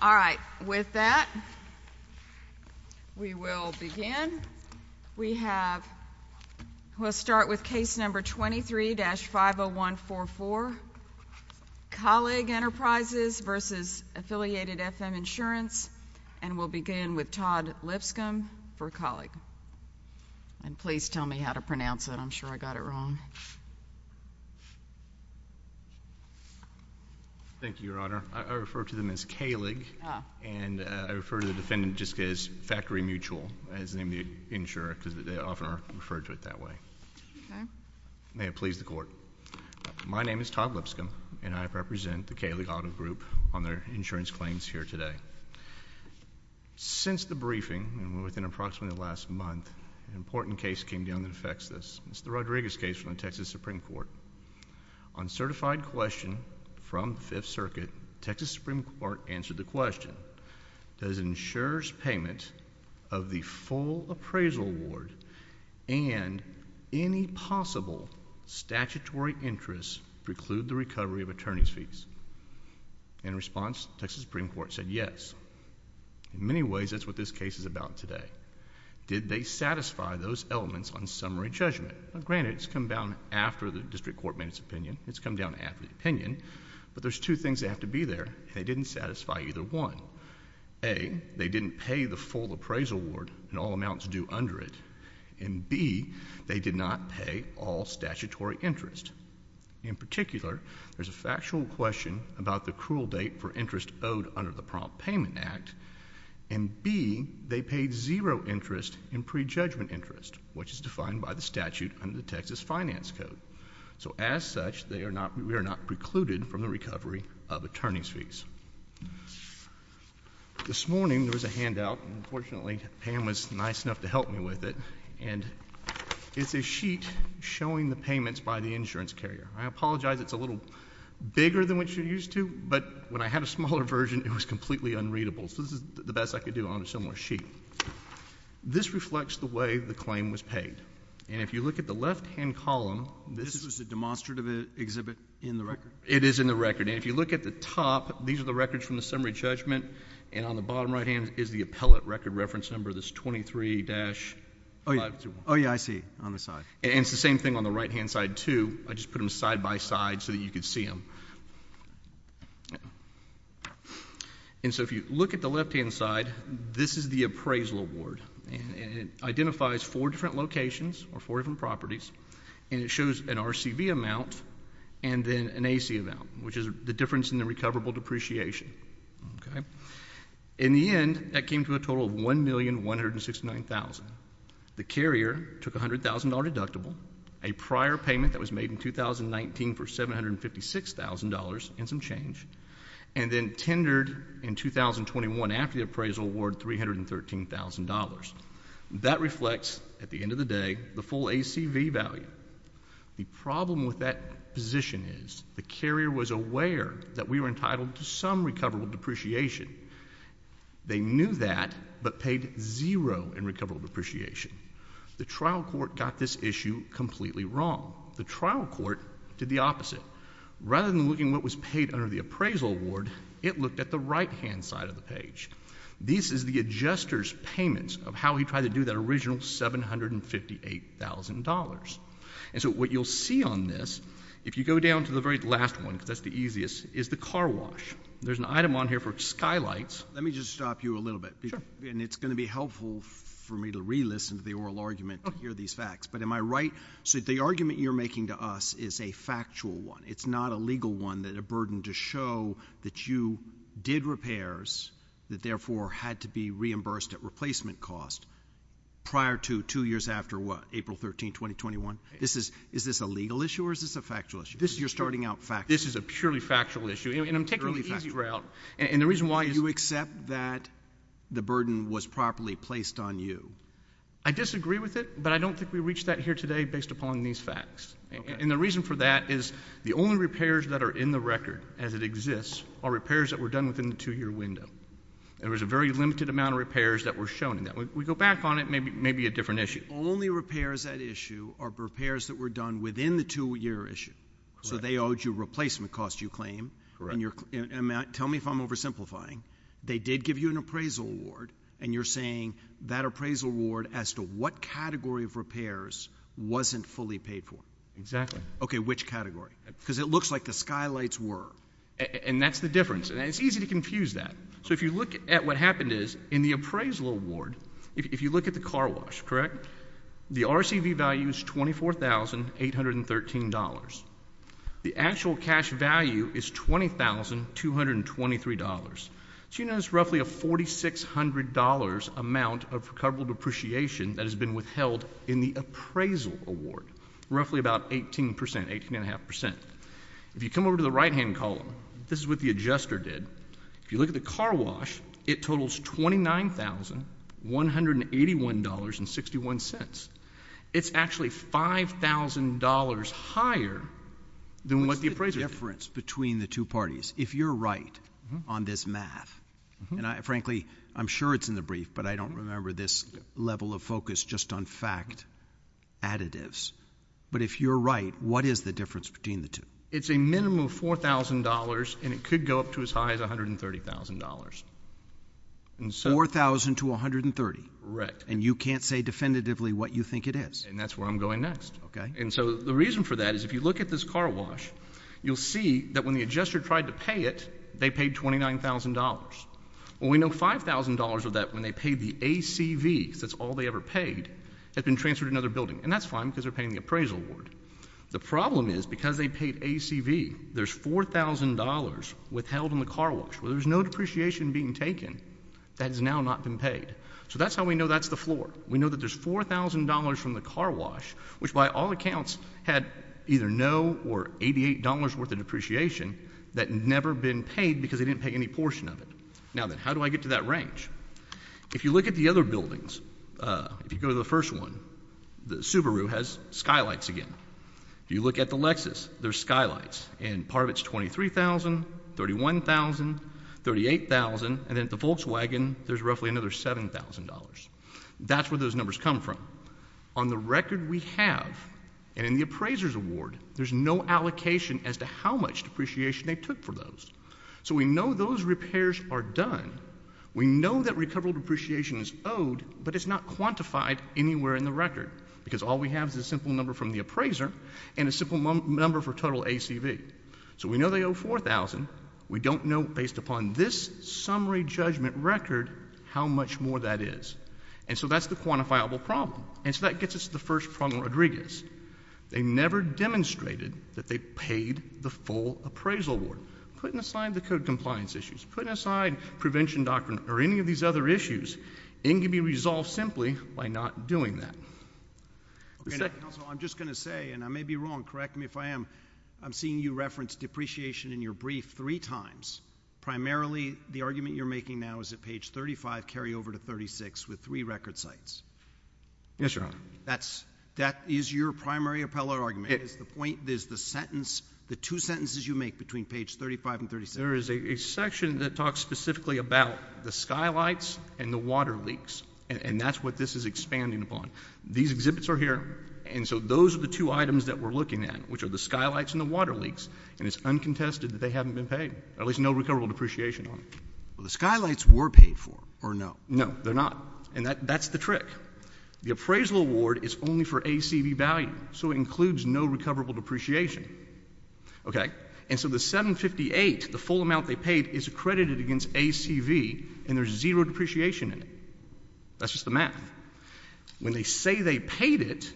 All right, with that, we will begin. We have, we'll start with case number 23-50144, Kallig Enterprises v. Affiliated FM Insurance, and we'll begin with Todd Lipscomb for Kallig. And please tell me how to pronounce it. I'm sure I got it wrong. Thank you, Your Honor. I refer to them as Kallig, and I refer to the defendant just as Factory Mutual, as in the insurer, because they often are referred to it that way. May it please the Court. My name is Todd Lipscomb, and I represent the Kallig Auto Group on their insurance claims here today. Since the briefing, and within approximately the last month, an important case came down that affects this. It's the Rodriguez case from the Texas Supreme Court. On certified question from the Fifth Circuit, Texas Supreme Court answered the question, does insurer's payment of the full appraisal award and any possible statutory interest preclude the recovery of attorney's fees? In response, Texas Supreme Court said yes. In many ways, that's what this case is about today. Did they satisfy those elements on summary judgment? Granted, it's come down after the district court made its opinion. It's come down after the opinion. But there's two things that have to be there. They didn't satisfy either one. A, they didn't pay the full appraisal award and all amounts due under it. And B, they did not pay all statutory interest. In particular, there's a factual question about the cruel date for interest owed under the Prompt Payment Act. And B, they paid zero interest in prejudgment interest, which is defined by the statute under the Texas Finance Code. So as such, we are not precluded from the recovery of attorney's fees. This morning, there was a handout. Unfortunately, Pam was nice enough to help me with it. And it's a sheet showing the payments by the insurance carrier. I apologize, it's a little bigger than what you're used to. But when I had a smaller version, it was completely unreadable. So this is the best I could do on a similar sheet. This reflects the way the claim was paid. And if you look at the left-hand column, this was a demonstrative exhibit in the record? It is in the record. And if you look at the top, these are the records from the summary judgment. And on the bottom right-hand is the appellate record reference number, this 23-521. Oh, yeah, I see, on the side. And it's the same thing on the right-hand side, too. I just put them side-by-side so that you could see them. And so if you look at the left-hand side, this is the appraisal award. And it identifies four different locations or four different properties. And it shows an RCV amount and then an AC amount, which is the difference in the recoverable depreciation. In the end, that came to a total of $1,169,000. The carrier took a $100,000 deductible, a prior payment that was made in 2019 for $756,000 and some change, and then tendered in 2021 after the appraisal award $313,000. That reflects, at the end of the day, the full ACV value. The problem with that position is the carrier was aware that we were entitled to some recoverable depreciation. They knew that but paid zero in recoverable depreciation. The trial court got this issue completely wrong. The trial court did the opposite. Rather than looking what was paid under the appraisal award, it looked at the right-hand side of the page. This is the adjuster's payments of how he tried to do that original $758,000. And so what you'll see on this, if you go down to the very last one, because that's the easiest, is the car wash. There's an item on here for skylights. Let me just stop you a little bit. Sure. And it's going to be helpful for me to re-listen to the oral argument to hear these facts. But am I right? So the argument you're making to us is a factual one. It's not a legal one that a burden to show that you did repairs that therefore had to be reimbursed at replacement cost prior to two years after, what, April 13, 2021? Is this a legal issue or is this a factual issue? You're starting out factual. This is a purely factual issue. And I'm taking the easy route. And the reason why you accept that the burden was properly placed on you. I disagree with it, but I don't think we reach that here today based upon these facts. And the reason for that is the only repairs that are in the record as it exists are repairs that were done within the two-year window. There was a very limited amount of repairs that were shown in that. We go back on it, maybe a different issue. Only repairs at issue are repairs that were done within the two-year issue. So they owed you an appraisal award and you're saying that appraisal award as to what category of repairs wasn't fully paid for. Exactly. Okay, which category? Because it looks like the skylights were. And that's the difference. And it's easy to confuse that. So if you look at what happened is in the appraisal award, if you look at the car wash, correct? The RCV value is $24,813. The actual cash value is $20,223. So you notice roughly a $4,600 amount of recoverable depreciation that has been withheld in the appraisal award. Roughly about 18%, 18.5%. If you come over to the right-hand column, this is what the adjuster did. If you look at the car wash, it totals $29,181.61. It's actually $5,000 higher than what the appraiser did. What's the difference between the two parties? If you're right on this math, and frankly, I'm sure it's in the brief, but I don't remember this level of focus just on fact additives. But if you're right, what is the difference between the two? It's a minimum of $4,000 and it could go up to as high as $130,000. $4,000 to $130,000? Correct. And you can't say definitively what you think it is? And that's where I'm going next. Okay. And so the reason for that is if you look at this car wash, you'll see that when the adjuster tried to pay it, they paid $29,000. Well, we know $5,000 of that when they paid the ACV, because that's all they ever paid, had been transferred to another building. And that's fine because they're paying the appraisal award. The problem is because they had $4,000 worth of depreciation being taken that has now not been paid. So that's how we know that's the floor. We know that there's $4,000 from the car wash, which by all accounts had either no or $88 worth of depreciation that had never been paid because they didn't pay any portion of it. Now then, how do I get to that range? If you look at the other buildings, if you go to the first one, the Subaru has skylights again. If you look at the Lexus, there's skylights, and part of it's $23,000, $31,000, $38,000, and then at the Volkswagen, there's roughly another $7,000. That's where those numbers come from. On the record we have, and in the appraiser's award, there's no allocation as to how much depreciation they took for those. So we know those repairs are done. We know that recoverable depreciation is owed, but it's not quantified anywhere in the record, because all we have is a simple number from the appraiser and a simple number for total ACV. So we know they owe $4,000. We don't know, based upon this summary judgment record, how much more that is. And so that's the quantifiable problem. And so that gets us to the first problem, Rodriguez. They never demonstrated that they paid the full appraisal award. Putting aside the code compliance issues, putting aside prevention doctrine or any of these other issues, it can be resolved simply by not doing that. Counsel, I'm just going to say, and I may be wrong, correct me if I am, I'm seeing you reference depreciation in your brief three times. Primarily, the argument you're making now is that page 35 carry over to 36 with three record sites. Yes, Your Honor. That is your primary appellate argument. It's the point, there's the sentence, the two sentences you make between page 35 and 36. There is a section that talks specifically about the skylights and the water leaks, and that's what this is expanding upon. These exhibits are here, and so those are the two items that we're looking at, which are the skylights and the water leaks. And it's uncontested that they haven't been paid, at least no recoverable depreciation on it. Well, the skylights were paid for, or no? No, they're not. And that's the trick. The appraisal award is only for ACV value, so it includes no recoverable depreciation. Okay. And so the 758, the full amount they paid, is accredited against ACV, and there's zero depreciation in it. That's just the math. When they say they paid it,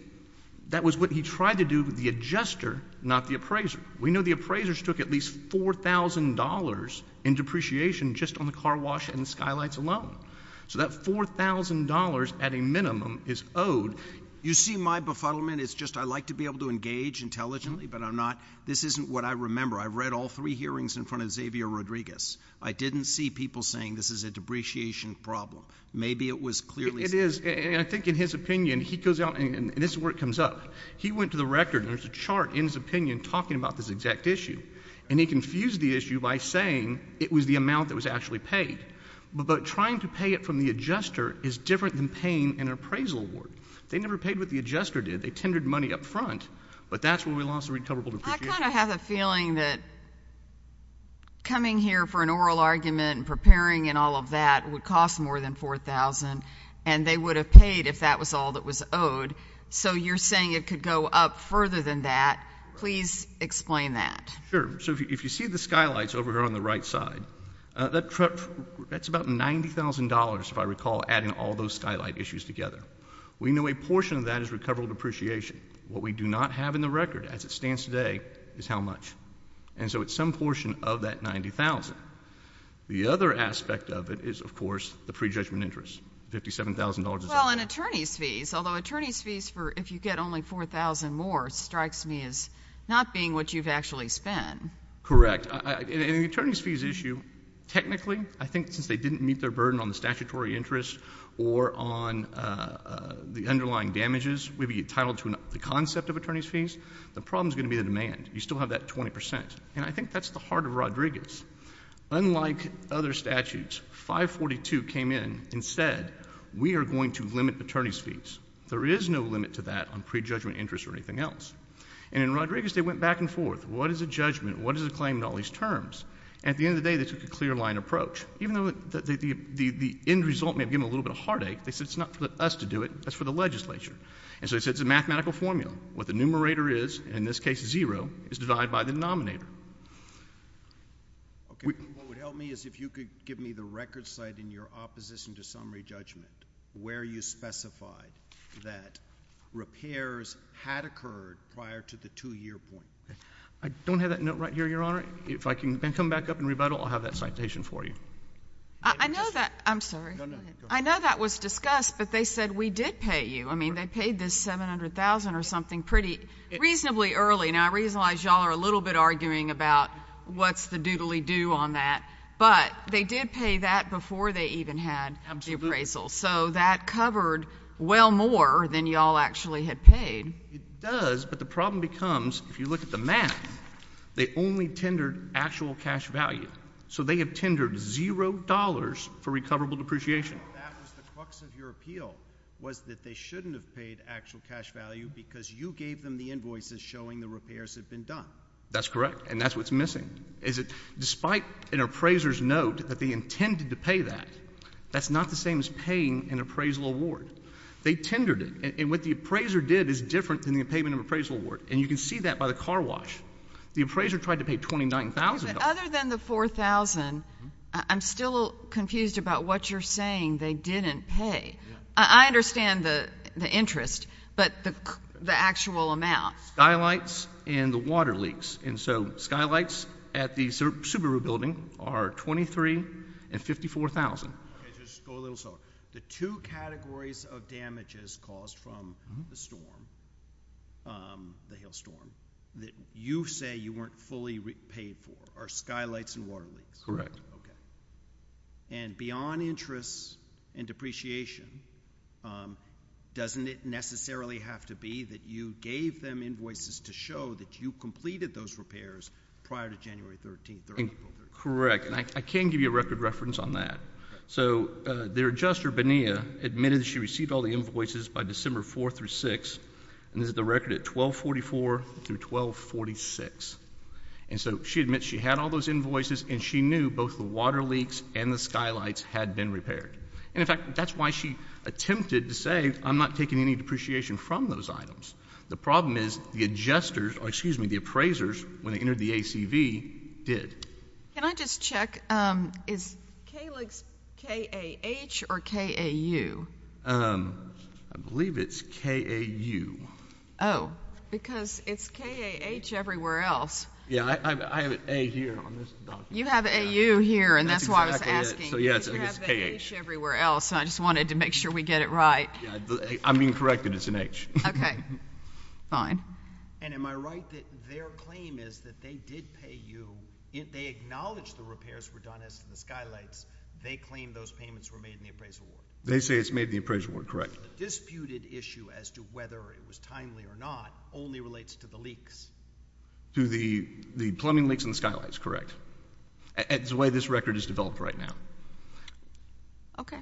that was what he tried to do with the adjuster, not the appraiser. We know the appraisers took at least $4,000 in depreciation just on the car wash and skylights alone. So that $4,000 at a minimum is owed. You see my befuddlement, it's just I like to be able to engage intelligently, but I'm not. This isn't what I remember. I've read all three I didn't see people saying this is a depreciation problem. Maybe it was clearly — It is. And I think in his opinion, he goes out — and this is where it comes up. He went to the record, and there's a chart in his opinion talking about this exact issue, and he confused the issue by saying it was the amount that was actually paid. But trying to pay it from the adjuster is different than paying an appraisal award. They never paid what the adjuster did. They tendered money up front, but that's when we lost the recoverable depreciation. I kind of have a feeling that coming here for an oral argument and preparing and all of that would cost more than $4,000, and they would have paid if that was all that was owed. So you're saying it could go up further than that. Please explain that. Sure. So if you see the skylights over here on the right side, that's about $90,000, if I recall, adding all those skylight issues together. We know a portion of that is recoverable depreciation. What we do not have in the is how much. And so it's some portion of that $90,000. The other aspect of it is, of course, the prejudgment interest, $57,000. Well, and attorney's fees. Although attorney's fees, if you get only $4,000 more, strikes me as not being what you've actually spent. Correct. And the attorney's fees issue, technically, I think since they didn't meet their burden on the statutory interest or on the underlying damages, we'd be entitled to the concept of attorney's fees. The problem is going to be the demand. You still have that 20%. And I think that's the heart of Rodriguez. Unlike other statutes, 542 came in and said, we are going to limit attorney's fees. There is no limit to that on prejudgment interest or anything else. And in Rodriguez, they went back and forth. What is a judgment? What is a claim in all these terms? And at the end of the day, they took a clear line approach. Even though the end result may have given them a little bit of heartache, they said it's not for us to do it, that's for the legislature. And so they said it's a mathematical formula. What the numerator is, in this case, zero, is divided by the denominator. Okay. What would help me is if you could give me the record site in your opposition to summary judgment where you specified that repairs had occurred prior to the two-year point. I don't have that note right here, Your Honor. If I can come back up and rebuttal, I'll have that citation for you. I know that — I'm sorry. No, no. Go ahead. I know that was discussed, but they said we did pay you. I mean, they paid this $700,000 or something pretty — reasonably early. Now, I realize y'all are a little bit arguing about what's the doodly-do on that, but they did pay that before they even had the appraisal. Absolutely. So that covered well more than y'all actually had paid. It does, but the problem becomes, if you look at the math, they only tendered actual cash value. So they have tendered $0 for recoverable depreciation. That was the crux of your appeal, was that they shouldn't have paid actual cash value because you gave them the invoices showing the repairs had been done. That's correct, and that's what's missing, is that despite an appraiser's note that they intended to pay that, that's not the same as paying an appraisal award. They tendered it, and what the appraiser did is different than the payment of appraisal award, and you can see that by the car wash. The appraiser tried to pay $29,000. Other than the $4,000, I'm still confused about what you're saying they didn't pay. I understand the interest, but the actual amount. Skylights and the water leaks, and so skylights at the Subaru building are $23,000 and $54,000. Okay, just go a little slower. The two categories of damages caused from the storm, the hail storm, that you say you weren't fully paid for are skylights and water leaks. Correct. And beyond interest and depreciation, doesn't it necessarily have to be that you gave them invoices to show that you completed those repairs prior to January 13th? Correct, and I can give you a record reference on that. So their adjuster, Bonilla, admitted she received all the invoices by December 4th through 6th, and this is the record at 1244 through 1246. And so she admits she had all those invoices, and she knew both the water leaks and the skylights had been repaired. And in fact, that's why she attempted to say, I'm not taking any depreciation from those items. The problem is the adjusters, or excuse me, the appraisers, when they entered the ACV, did. Can I just check, is KAH or KAU? I believe it's KAU. Oh, because it's KAH everywhere else. Yeah, I have an A here on this document. You have AU here, and that's why I was asking. So yes, I guess KAH. Everywhere else, and I just wanted to make sure we get it right. I'm being corrected, it's an H. Okay, fine. And am I right that their claim is that they did pay you, they acknowledged the repairs were done as to the skylights, they claim those payments were made in the appraisal ward? They say it's made in the appraisal ward, correct. So the disputed issue as to whether it was timely or not only relates to the leaks? To the plumbing leaks and skylights, correct. It's the way this record is developed right now. Okay.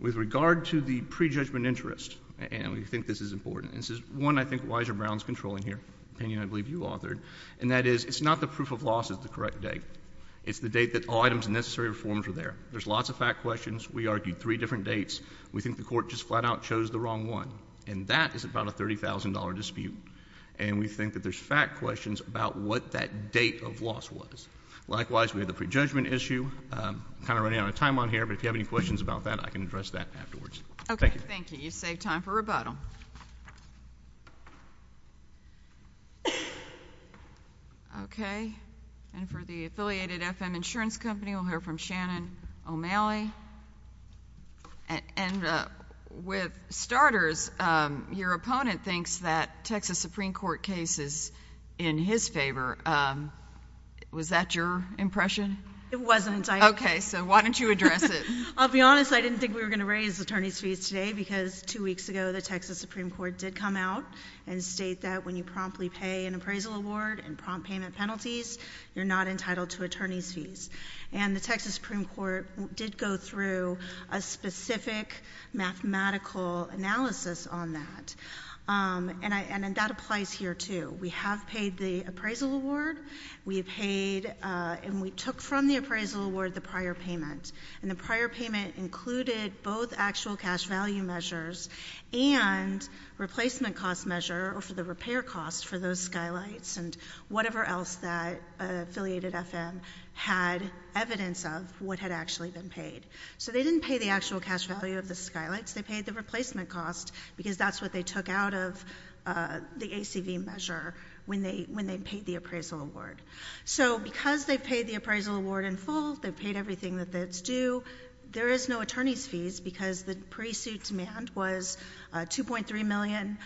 With regard to the prejudgment interest, and we think this is important, this is one I think Weiser Brown's controlling here, an opinion I believe you authored, and that is it's not the proof of loss is the correct date. It's the date that all items and necessary reforms were there. There's lots of fact questions. We argued three different dates. We think the court just flat out chose the wrong one, and that is about a $30,000 dispute, and we think that there's fact questions about what that date of loss was. Likewise, we had the prejudgment issue, kind of running out of time on here, but if you have any questions about that, I can address that afterwards. Okay, thank you. You saved time for rebuttal. Okay, and for the Affiliated FM Insurance Company, we'll hear from Shannon O'Malley. And with starters, your opponent thinks that Texas Supreme Court case is in his favor. Was that your impression? It wasn't. Okay, so why don't you address it? I'll be honest. I didn't think we were going to raise attorney's fees today because two weeks ago, the Texas Supreme Court did come out and state that when you promptly pay an appraisal award and prompt payment penalties, you're not entitled to attorney's fees. And the Texas Supreme Court did go through a specific mathematical analysis on that, and that applies here, too. We have paid the appraisal award. We have paid and we took from the appraisal award the prior payment, and the prior payment included both actual cash value measures and replacement cost measure for the repair cost for those skylights and whatever else that affiliated FM had evidence of what had actually been paid. So they didn't pay the actual cash value of the skylights. They paid the replacement cost because that's what they took out of the ACV measure when they paid the appraisal award. So because they paid the appraisal award in full, they paid everything that's due, there is no attorney's fees because the pre-suit demand was $2.3 million,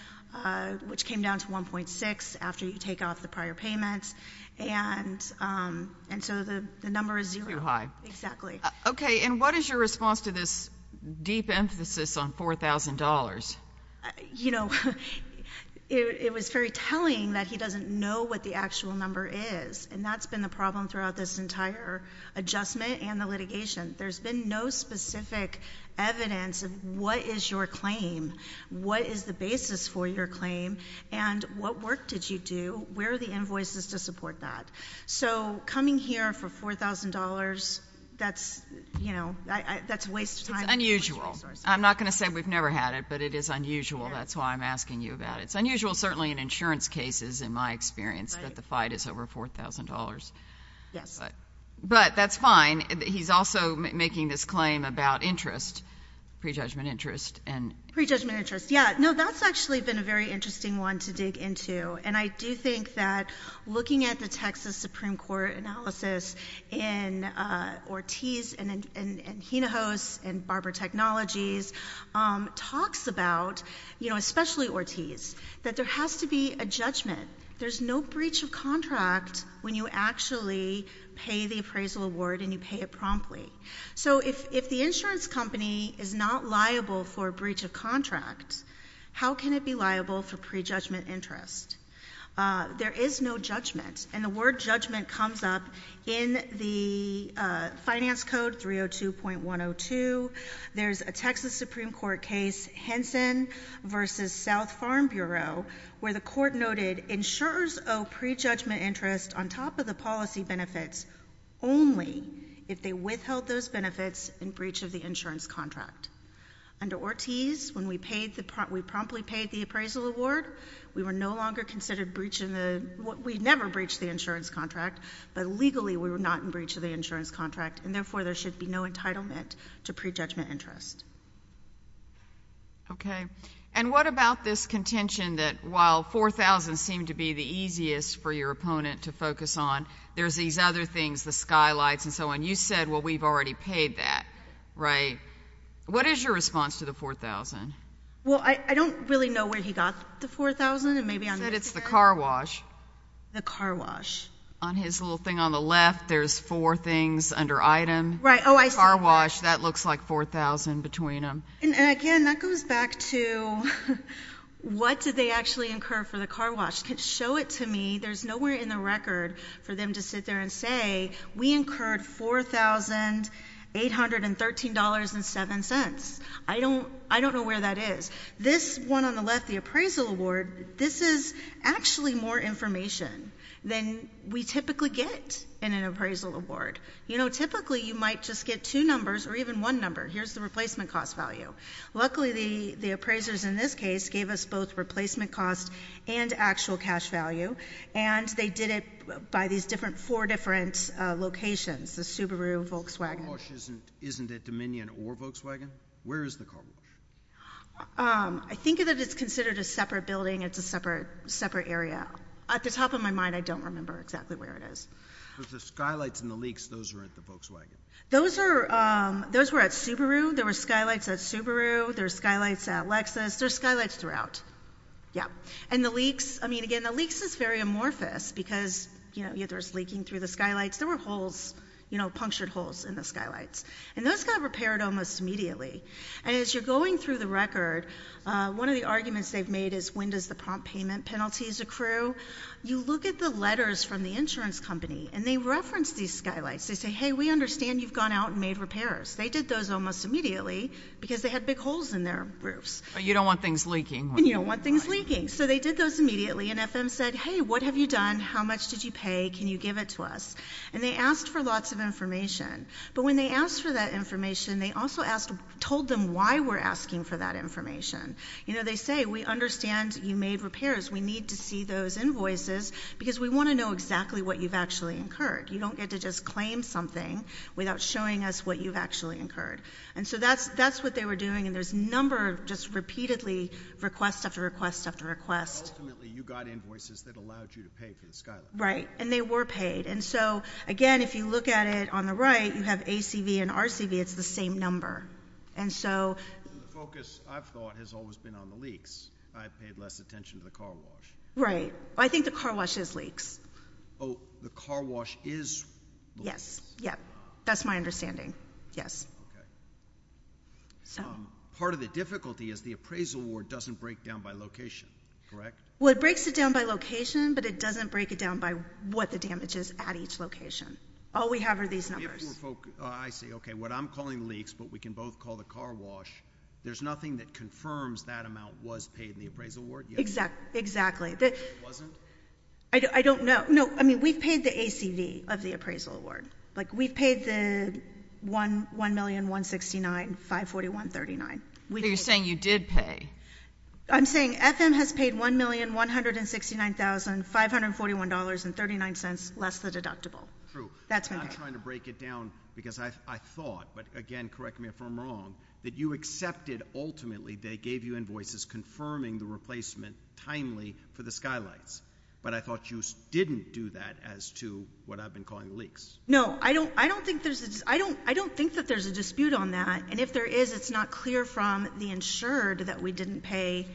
which came down to $1.6 million after you take off the prior payments. And so the number is zero. Too high. Exactly. Okay. And what is your response to this deep emphasis on $4,000? You know, it was very telling that he doesn't know what the actual number is, and that's been the problem throughout this entire adjustment and the litigation. There's been no specific evidence of what is your claim, what is the basis for your claim, and what work did you do, where are the invoices to support that? So coming here for $4,000, that's, you know, that's a waste of time. It's unusual. I'm not going to say we've never had it, but it is unusual. That's why I'm asking you about it. Unusual certainly in insurance cases, in my experience, that the fight is over $4,000. Yes. But that's fine. He's also making this claim about interest, pre-judgment interest, and— Pre-judgment interest, yeah. No, that's actually been a very interesting one to dig into, and I do think that looking at the Texas Supreme Court analysis in Ortiz and Hinojos and Barber Technologies talks about, you know, especially Ortiz, that there has to be a judgment. There's no breach of contract when you actually pay the appraisal award and you pay it promptly. So if the insurance company is not liable for a breach of contract, how can it be liable for pre-judgment interest? There is no judgment, and the word judgment comes up in the Finance Code 302.102. There's a Texas Supreme Court case, Henson v. South Farm Bureau, where the court noted, insurers owe pre-judgment interest on top of the policy benefits only if they withheld those benefits in breach of the insurance contract. Under Ortiz, when we promptly paid the appraisal award, we were no longer considered breaching the—we never breached the insurance contract, but legally we were not in breach of the insurance contract, and therefore there should be no entitlement to pre-judgment interest. Okay. And what about this contention that while $4,000 seemed to be the easiest for your opponent to focus on, there's these other things, the skylights and so on. You said, well, we've already paid that, right? What is your response to the $4,000? Well, I don't really know where he got the $4,000, and maybe on— You said it's the car wash. The car wash. On his little thing on the left, there's four things under item. Right. Oh, I see. Car wash. That looks like $4,000 between them. And again, that goes back to what did they actually incur for the car wash? Show it to me. There's nowhere in the record for them to sit there and say, we incurred $4,813.07. I don't know where that is. This one on the left, the appraisal award, this is actually more information than we typically get in an appraisal award. You know, typically you might just get two numbers or even one number. Here's the replacement cost value. Luckily, the appraisers in this case gave us both replacement cost and actual cash value, and they did it by these four different locations, the Subaru, Volkswagen— The car wash isn't at Dominion or Volkswagen? Where is the car wash? I think that it's considered a separate building. It's a separate area. At the top of my mind, I don't remember exactly where it is. The Skylights and the Leaks, those are at the Volkswagen. Those were at Subaru. There were Skylights at Subaru. There were Skylights at Lexus. There were Skylights throughout. Yeah. And the Leaks, I mean, again, the Leaks is very amorphous because, you know, there was leaking through the Skylights. There were holes, you know, punctured holes in the Skylights. And those got repaired almost immediately. And as you're going through the record, one of the arguments they've made is, when does the prompt payment penalties accrue? You look at the letters from the insurance company, and they reference these Skylights. They say, hey, we understand you've gone out and made repairs. They did those almost immediately because they had big holes in their roofs. You don't want things leaking. You don't want things leaking. So they did those immediately. And FM said, hey, what have you done? How much did you pay? Can you give it to us? And they asked for lots of information. But when they asked for that information, they also told them why we're asking for that information. You know, they say, we understand you made repairs. We need to see those invoices because we want to know exactly what you've actually incurred. You don't get to just claim something without showing us what you've actually incurred. And so that's what they were doing. And there's a number of just repeatedly request after request after request. Ultimately, you got invoices that allowed you to pay for the Skylight. Right. And they were paid. And so, again, if you look at it on the right, you have ACV and RCV. It's the same number. And so... And the focus, I've thought, has always been on the leaks. I've paid less attention to the car wash. Right. I think the car wash is leaks. Oh, the car wash is leaks? Yes. Yeah. That's my understanding. Yes. Okay. Part of the difficulty is the appraisal award doesn't break down by location, correct? Well, it breaks it down by location, but it doesn't break it down by what the damage is at each location. All we have are these numbers. Oh, I see. Okay. What I'm calling leaks, but we can both call the car wash. There's nothing that confirms that amount was paid in the appraisal award? Exactly. Exactly. It wasn't? I don't know. No. I mean, we've paid the ACV of the appraisal award. We've paid the $1,169,541.39. You're saying you did pay? I'm saying FM has paid $1,169,541.39, less the deductible. True. That's my point. I'm trying to break it down because I thought, but again, correct me if I'm wrong, that you accepted, ultimately, they gave you invoices confirming the replacement timely for the Skylights. But I thought you didn't do that as to what I've been calling leaks. No. I don't think that there's a dispute on that. And if there is, it's not clear from the insured that we didn't pay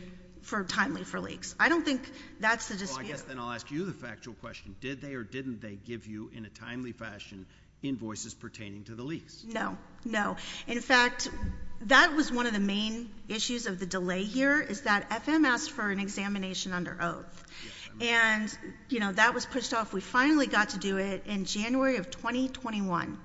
for timely for leaks. I don't think that's the dispute. Well, I guess then I'll ask you the factual question. Did they or didn't they give you, in a timely fashion, invoices pertaining to the leaks? No. No. In fact, that was one of the main issues of the delay here is that FM asked for an examination under oath. And that was pushed off. We finally got to do it in January of 2021.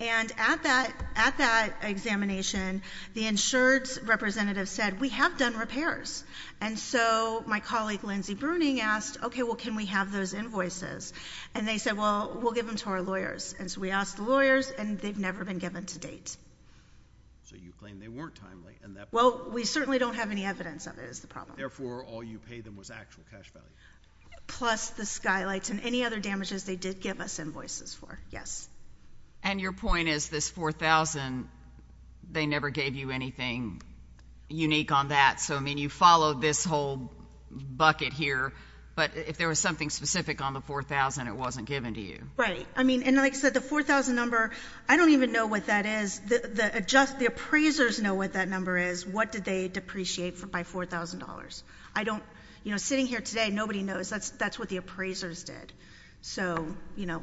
And at that examination, the insured's representative said, we have done repairs. And so my colleague, Lindsey Bruning, asked, OK, well, can we have those invoices? And they said, well, we'll give them to our lawyers. And so we asked the lawyers, and they've never been given to date. So you claim they weren't timely. Well, we certainly don't have any evidence of it is the problem. Therefore, all you paid them was actual cash value. Plus the skylights and any other damages they did give us invoices for. Yes. And your point is this $4,000, they never gave you anything unique on that. So, I mean, you followed this whole bucket here. But if there was something specific on the $4,000, it wasn't given to you. Right. I mean, and like I said, the $4,000 number, I don't even know what that is. The appraisers know what that number is. What did they depreciate by $4,000? I don't, you know, sitting here today, nobody knows. That's what the appraisers did. So, you know,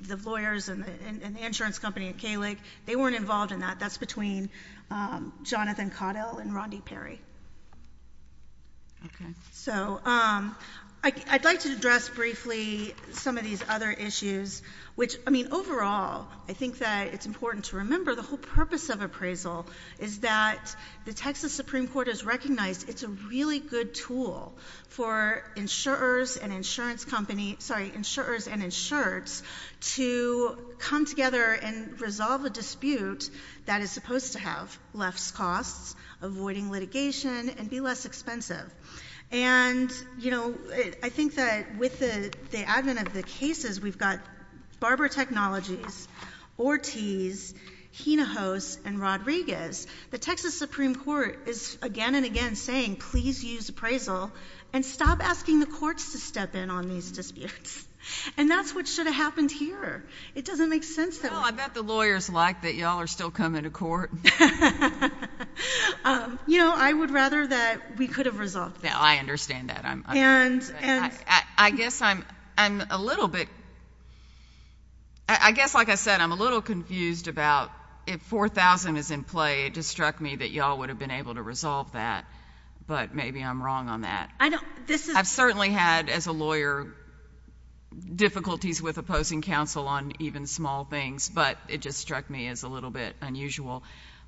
the lawyers and the insurance company at Kalig, they weren't involved in that. That's between Jonathan Caudill and Rondi Perry. OK. So I'd like to address briefly some of these other issues, which, I mean, overall, I think that it's important to remember the whole purpose of appraisal is that the Texas Supreme Court has recognized it's a really good tool for insurers and insurance company, sorry, insurers and insurance to come together and resolve a dispute that is supposed to have less costs, avoiding litigation, and be less expensive. And, you know, I think that with the advent of the cases, we've got Barber Technologies, the Texas Supreme Court is again and again saying, please use appraisal and stop asking the courts to step in on these disputes. And that's what should have happened here. It doesn't make sense. Well, I bet the lawyers like that y'all are still coming to court. You know, I would rather that we could have resolved it. I understand that. I guess I'm a little bit, I guess, like I said, I'm a little confused about if $4,000 is in play, it just struck me that y'all would have been able to resolve that. But maybe I'm wrong on that. I know, this is— I've certainly had, as a lawyer, difficulties with opposing counsel on even small things, but it just struck me as a little bit unusual.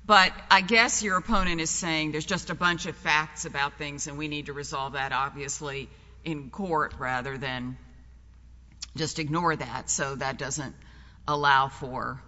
But I guess your opponent is saying there's just a bunch of facts about things and we need to resolve that, obviously, in court rather than just ignore that so that doesn't allow for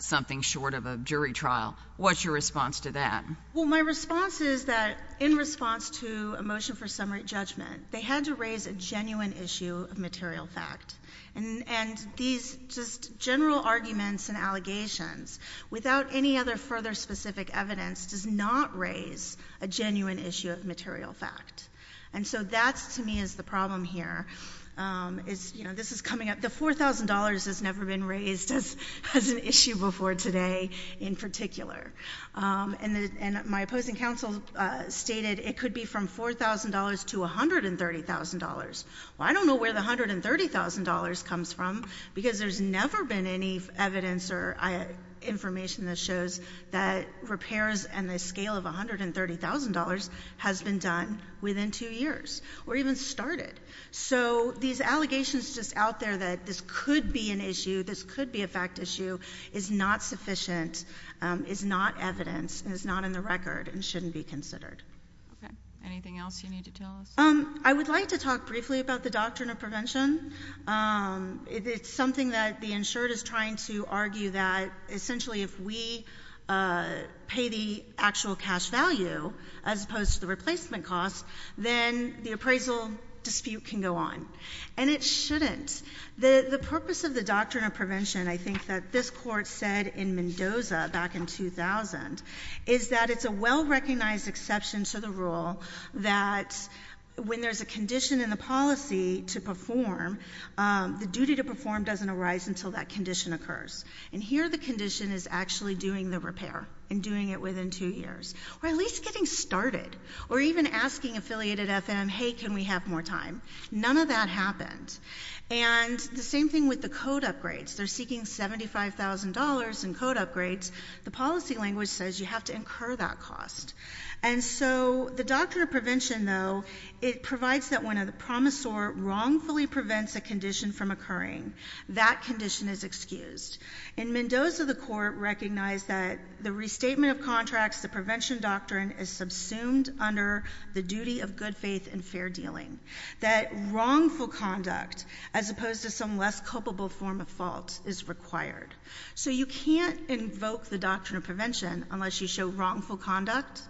something short of a jury trial. What's your response to that? Well, my response is that in response to a motion for summary judgment, they had to raise a genuine issue of material fact. And these just general arguments and allegations, without any other further specific evidence, does not raise a genuine issue of material fact. And so that, to me, is the problem here. It's, you know, this is coming up—the $4,000 has never been raised as an issue before today in particular. And my opposing counsel stated it could be from $4,000 to $130,000. Well, I don't know where the $130,000 comes from because there's never been any evidence or information that shows that repairs and the scale of $130,000 has been done within two years or even started. So these allegations just out there that this could be an issue, this could be a fact issue, is not sufficient, is not evidence, and is not in the record and shouldn't be considered. Okay. Anything else you need to tell us? I would like to talk briefly about the doctrine of prevention. It's something that the insured is trying to argue that essentially if we pay the actual cash value as opposed to the replacement cost, then the appraisal dispute can go on. And it shouldn't. The purpose of the doctrine of prevention, I think that this Court said in Mendoza back in 2000, is that it's a well-recognized exception to the rule that when there's a condition in the policy to perform, the duty to perform doesn't arise until that condition occurs. And here the condition is actually doing the repair and doing it within two years. Or at least getting started. Or even asking affiliated FM, hey, can we have more time? None of that happened. And the same thing with the code upgrades. They're seeking $75,000 in code upgrades. The policy language says you have to incur that cost. And so the doctrine of prevention, though, it provides that when a promisor wrongfully prevents a condition from occurring, that condition is excused. In Mendoza, the Court recognized that the restatement of contracts, the prevention doctrine is subsumed under the duty of good faith and fair dealing. That wrongful conduct as opposed to some less culpable form of fault is required. So you can't invoke the doctrine of prevention unless you show wrongful conduct,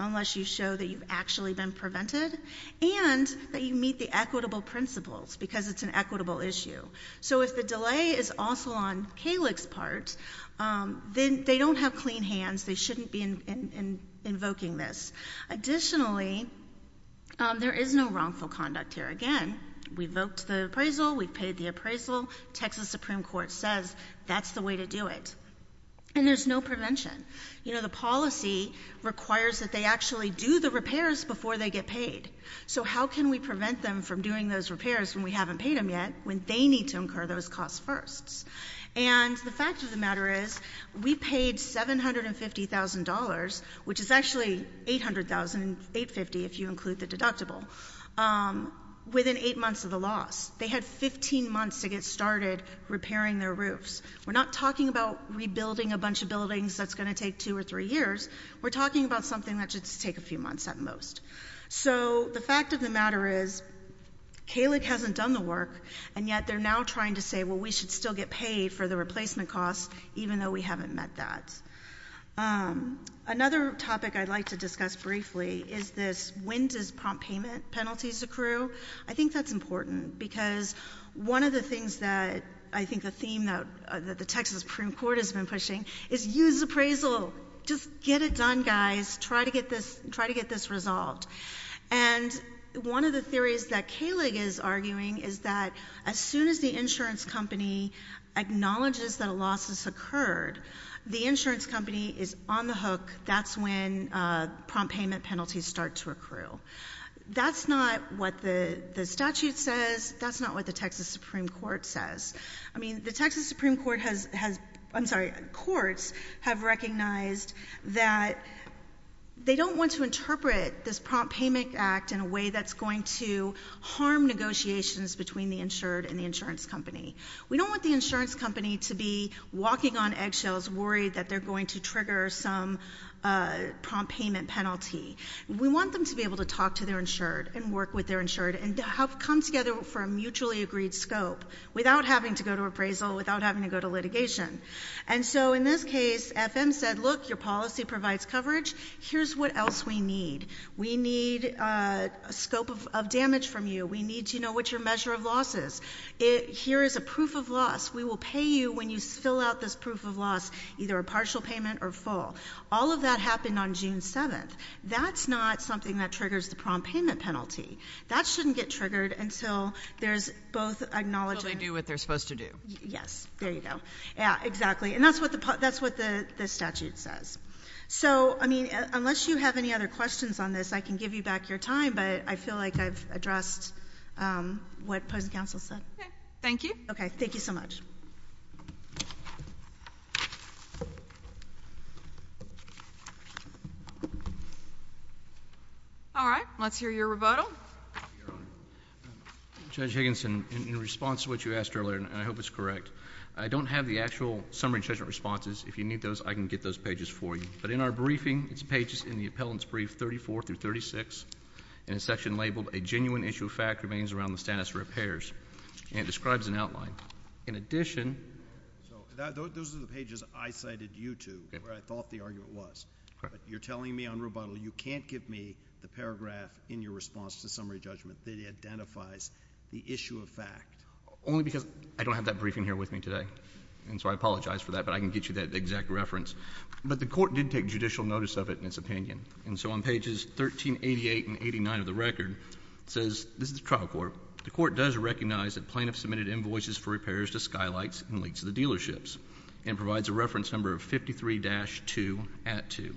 unless you show that you've actually been prevented, and that you meet the equitable principles. Because it's an equitable issue. So if the delay is also on Calig's part, then they don't have clean hands. They shouldn't be invoking this. Additionally, there is no wrongful conduct here. Again, we voked the appraisal. We paid the appraisal. Texas Supreme Court says that's the way to do it. And there's no prevention. You know, the policy requires that they actually do the repairs before they get paid. So how can we prevent them from doing those repairs when we haven't paid them yet, when they need to incur those costs first? And the fact of the matter is, we paid $750,000, which is actually $800,000, $850,000 if you include the deductible, within eight months of the loss. They had 15 months to get started repairing their roofs. We're not talking about rebuilding a bunch of buildings that's going to take two or three years. We're talking about something that should take a few months at most. So the fact of the matter is, Calig hasn't done the work, and yet they're now trying to say, well, we should still get paid for the replacement costs, even though we haven't met that. Another topic I'd like to discuss briefly is this, when does prompt payment penalties accrue? I think that's important, because one of the things that I think the theme that the Texas Supreme Court has been pushing is use appraisal. Just get it done, guys. Try to get this resolved. And one of the theories that Calig is arguing is that as soon as the insurance company acknowledges that a loss has occurred, the insurance company is on the hook. That's when prompt payment penalties start to accrue. That's not what the statute says. That's not what the Texas Supreme Court says. I mean, the Texas Supreme Court has, I'm sorry, courts have recognized that they don't want to interpret this prompt payment act in a way that's going to harm negotiations between the insured and the insurance company. We don't want the insurance company to be walking on eggshells worried that they're going to trigger some prompt payment penalty. We want them to be able to talk to their insured and work with their insured and come together for a mutually agreed scope without having to go to appraisal, without having to go to litigation. And so in this case, FM said, look, your policy provides coverage. Here's what else we need. We need a scope of damage from you. We need to know what your measure of loss is. Here is a proof of loss. We will pay you when you fill out this proof of loss, either a partial payment or full. All of that happened on June 7th. That's not something that triggers the prompt payment penalty. That shouldn't get triggered until there's both acknowledged. Until they do what they're supposed to do. Yes. There you go. Yeah, exactly. And that's what the statute says. So, I mean, unless you have any other questions on this, I can give you back your time. But I feel like I've addressed what opposing counsel said. Okay. Thank you. Okay. Thank you so much. All right. Let's hear your rebuttal. Judge Higginson, in response to what you asked earlier, and I hope it's correct, I don't have the actual summary judgment responses. If you need those, I can get those pages for you. But in our briefing, it's pages in the appellant's brief 34 through 36, in a section labeled a genuine issue of fact remains around the status of repairs. And it describes an outline. In addition. Those are the pages I cited you to, where I thought the argument was. But you're telling me on rebuttal, you can't give me the paragraph in your response to summary judgment that identifies the issue of fact. Only because I don't have that briefing here with me today. And so I apologize for that. But I can get you that exact reference. But the court did take judicial notice of it in its opinion. And so on pages 1388 and 89 of the record, it says, this is the trial court. The court does recognize that plaintiff submitted invoices for repairs to Skylights and Leakes of the dealerships. And provides a reference number of 53-2, at 2.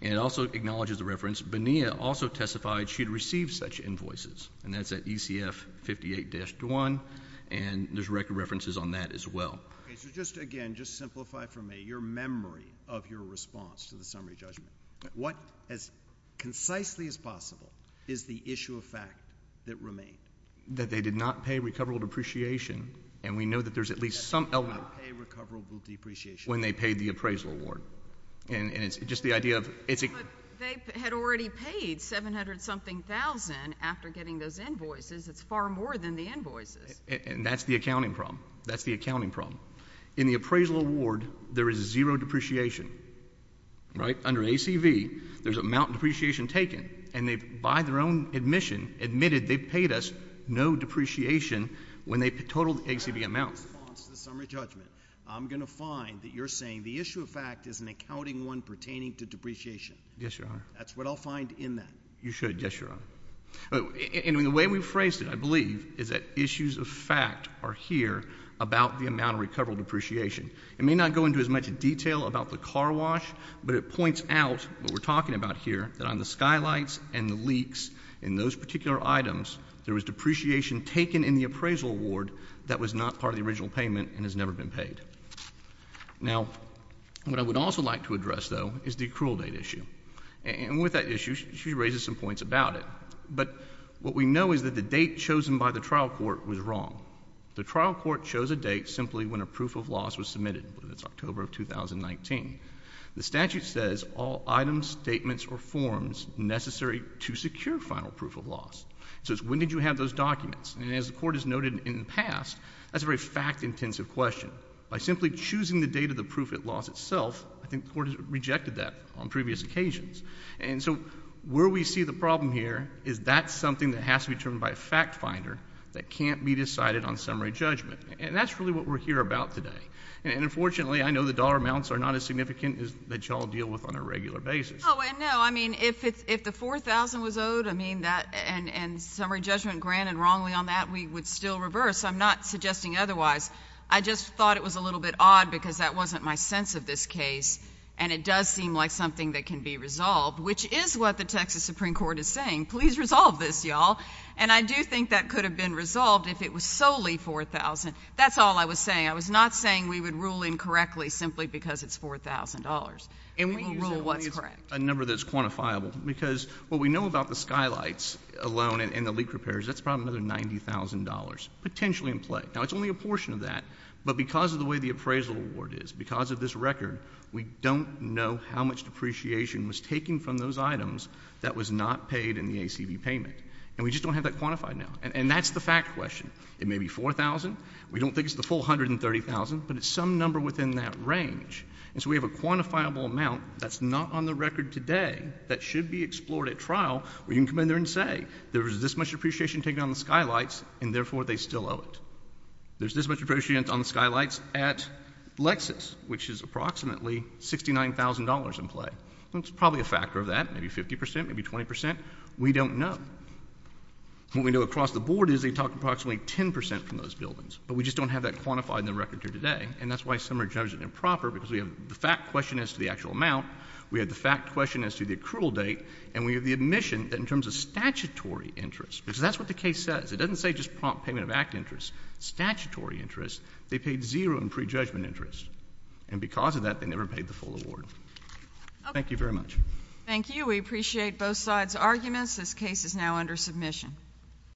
And it also acknowledges the reference, Bonilla also testified she had received such invoices. And that's at ECF 58-1. And there's record references on that as well. Okay. So just again, just simplify for me your memory of your response to the summary judgment. What, as concisely as possible, is the issue of fact that remains? That they did not pay recoverable depreciation. And we know that there's at least some element of pay recoverable depreciation when they paid the appraisal award. And it's just the idea of, it's. But they had already paid 700-something thousand after getting those invoices. It's far more than the invoices. And that's the accounting problem. That's the accounting problem. In the appraisal award, there is zero depreciation. Right? Under ACV, there's an amount of depreciation taken. And they, by their own admission, admitted they paid us no depreciation when they totaled the ACV amount. In response to the summary judgment, I'm going to find that you're saying the issue of fact is an accounting one pertaining to depreciation. Yes, Your Honor. That's what I'll find in that. You should. Yes, Your Honor. And the way we phrased it, I believe, is that issues of fact are here about the amount of recoverable depreciation. It may not go into as much detail about the car wash. But it points out what we're talking about here, that on the skylights and the leaks in those particular items, there was depreciation taken in the appraisal award that was not part of the original payment and has never been paid. Now, what I would also like to address, though, is the accrual date issue. And with that issue, she raises some points about it. But what we know is that the date chosen by the trial court was wrong. The trial court chose a date simply when a proof of loss was submitted. It's October of 2019. The statute says all items, statements, or forms necessary to secure final proof of loss. So it's when did you have those documents. And as the court has noted in the past, that's a very fact-intensive question. By simply choosing the date of the proof of loss itself, I think the court has rejected that on previous occasions. And so where we see the problem here is that's something that has to be determined by a fact finder that can't be decided on summary judgment. And that's really what we're here about today. And unfortunately, I know the dollar amounts are not as significant as that y'all deal with on a regular basis. Oh, and no, I mean, if the $4,000 was owed, I mean, and summary judgment granted wrongly on that, we would still reverse. I'm not suggesting otherwise. I just thought it was a little bit odd because that wasn't my sense of this case. And it does seem like something that can be resolved, which is what the Texas Supreme Court is saying. Please resolve this, y'all. And I do think that could have been resolved if it was solely $4,000. That's all I was saying. I was not saying we would rule incorrectly simply because it's $4,000, and we will rule what's correct. Let me use a number that's quantifiable. Because what we know about the skylights alone and the leak repairs, that's probably another $90,000, potentially in play. Now, it's only a portion of that. But because of the way the appraisal award is, because of this record, we don't know how much depreciation was taken from those items that was not paid in the ACB payment. And we just don't have that quantified now. And that's the fact question. It may be $4,000. We don't think it's the full $130,000. But it's some number within that range. And so we have a quantifiable amount that's not on the record today that should be explored at trial where you can come in there and say, there was this much depreciation taken on the skylights, and therefore, they still owe it. There's this much depreciation on the skylights at Lexus, which is approximately $69,000 in play. That's probably a factor of that, maybe 50%, maybe 20%. We don't know. What we know across the board is they took approximately 10% from those buildings. But we just don't have that quantified in the record here today. And that's why some are judged improper, because we have the fact question as to the actual amount. We have the fact question as to the accrual date. And we have the admission that in terms of statutory interest, because that's what the case says. It doesn't say just prompt payment of act interest. Statutory interest. They paid zero in prejudgment interest. And because of that, they never paid the full award. Thank you very much. Thank you. We appreciate both sides' arguments. This case is now under submission.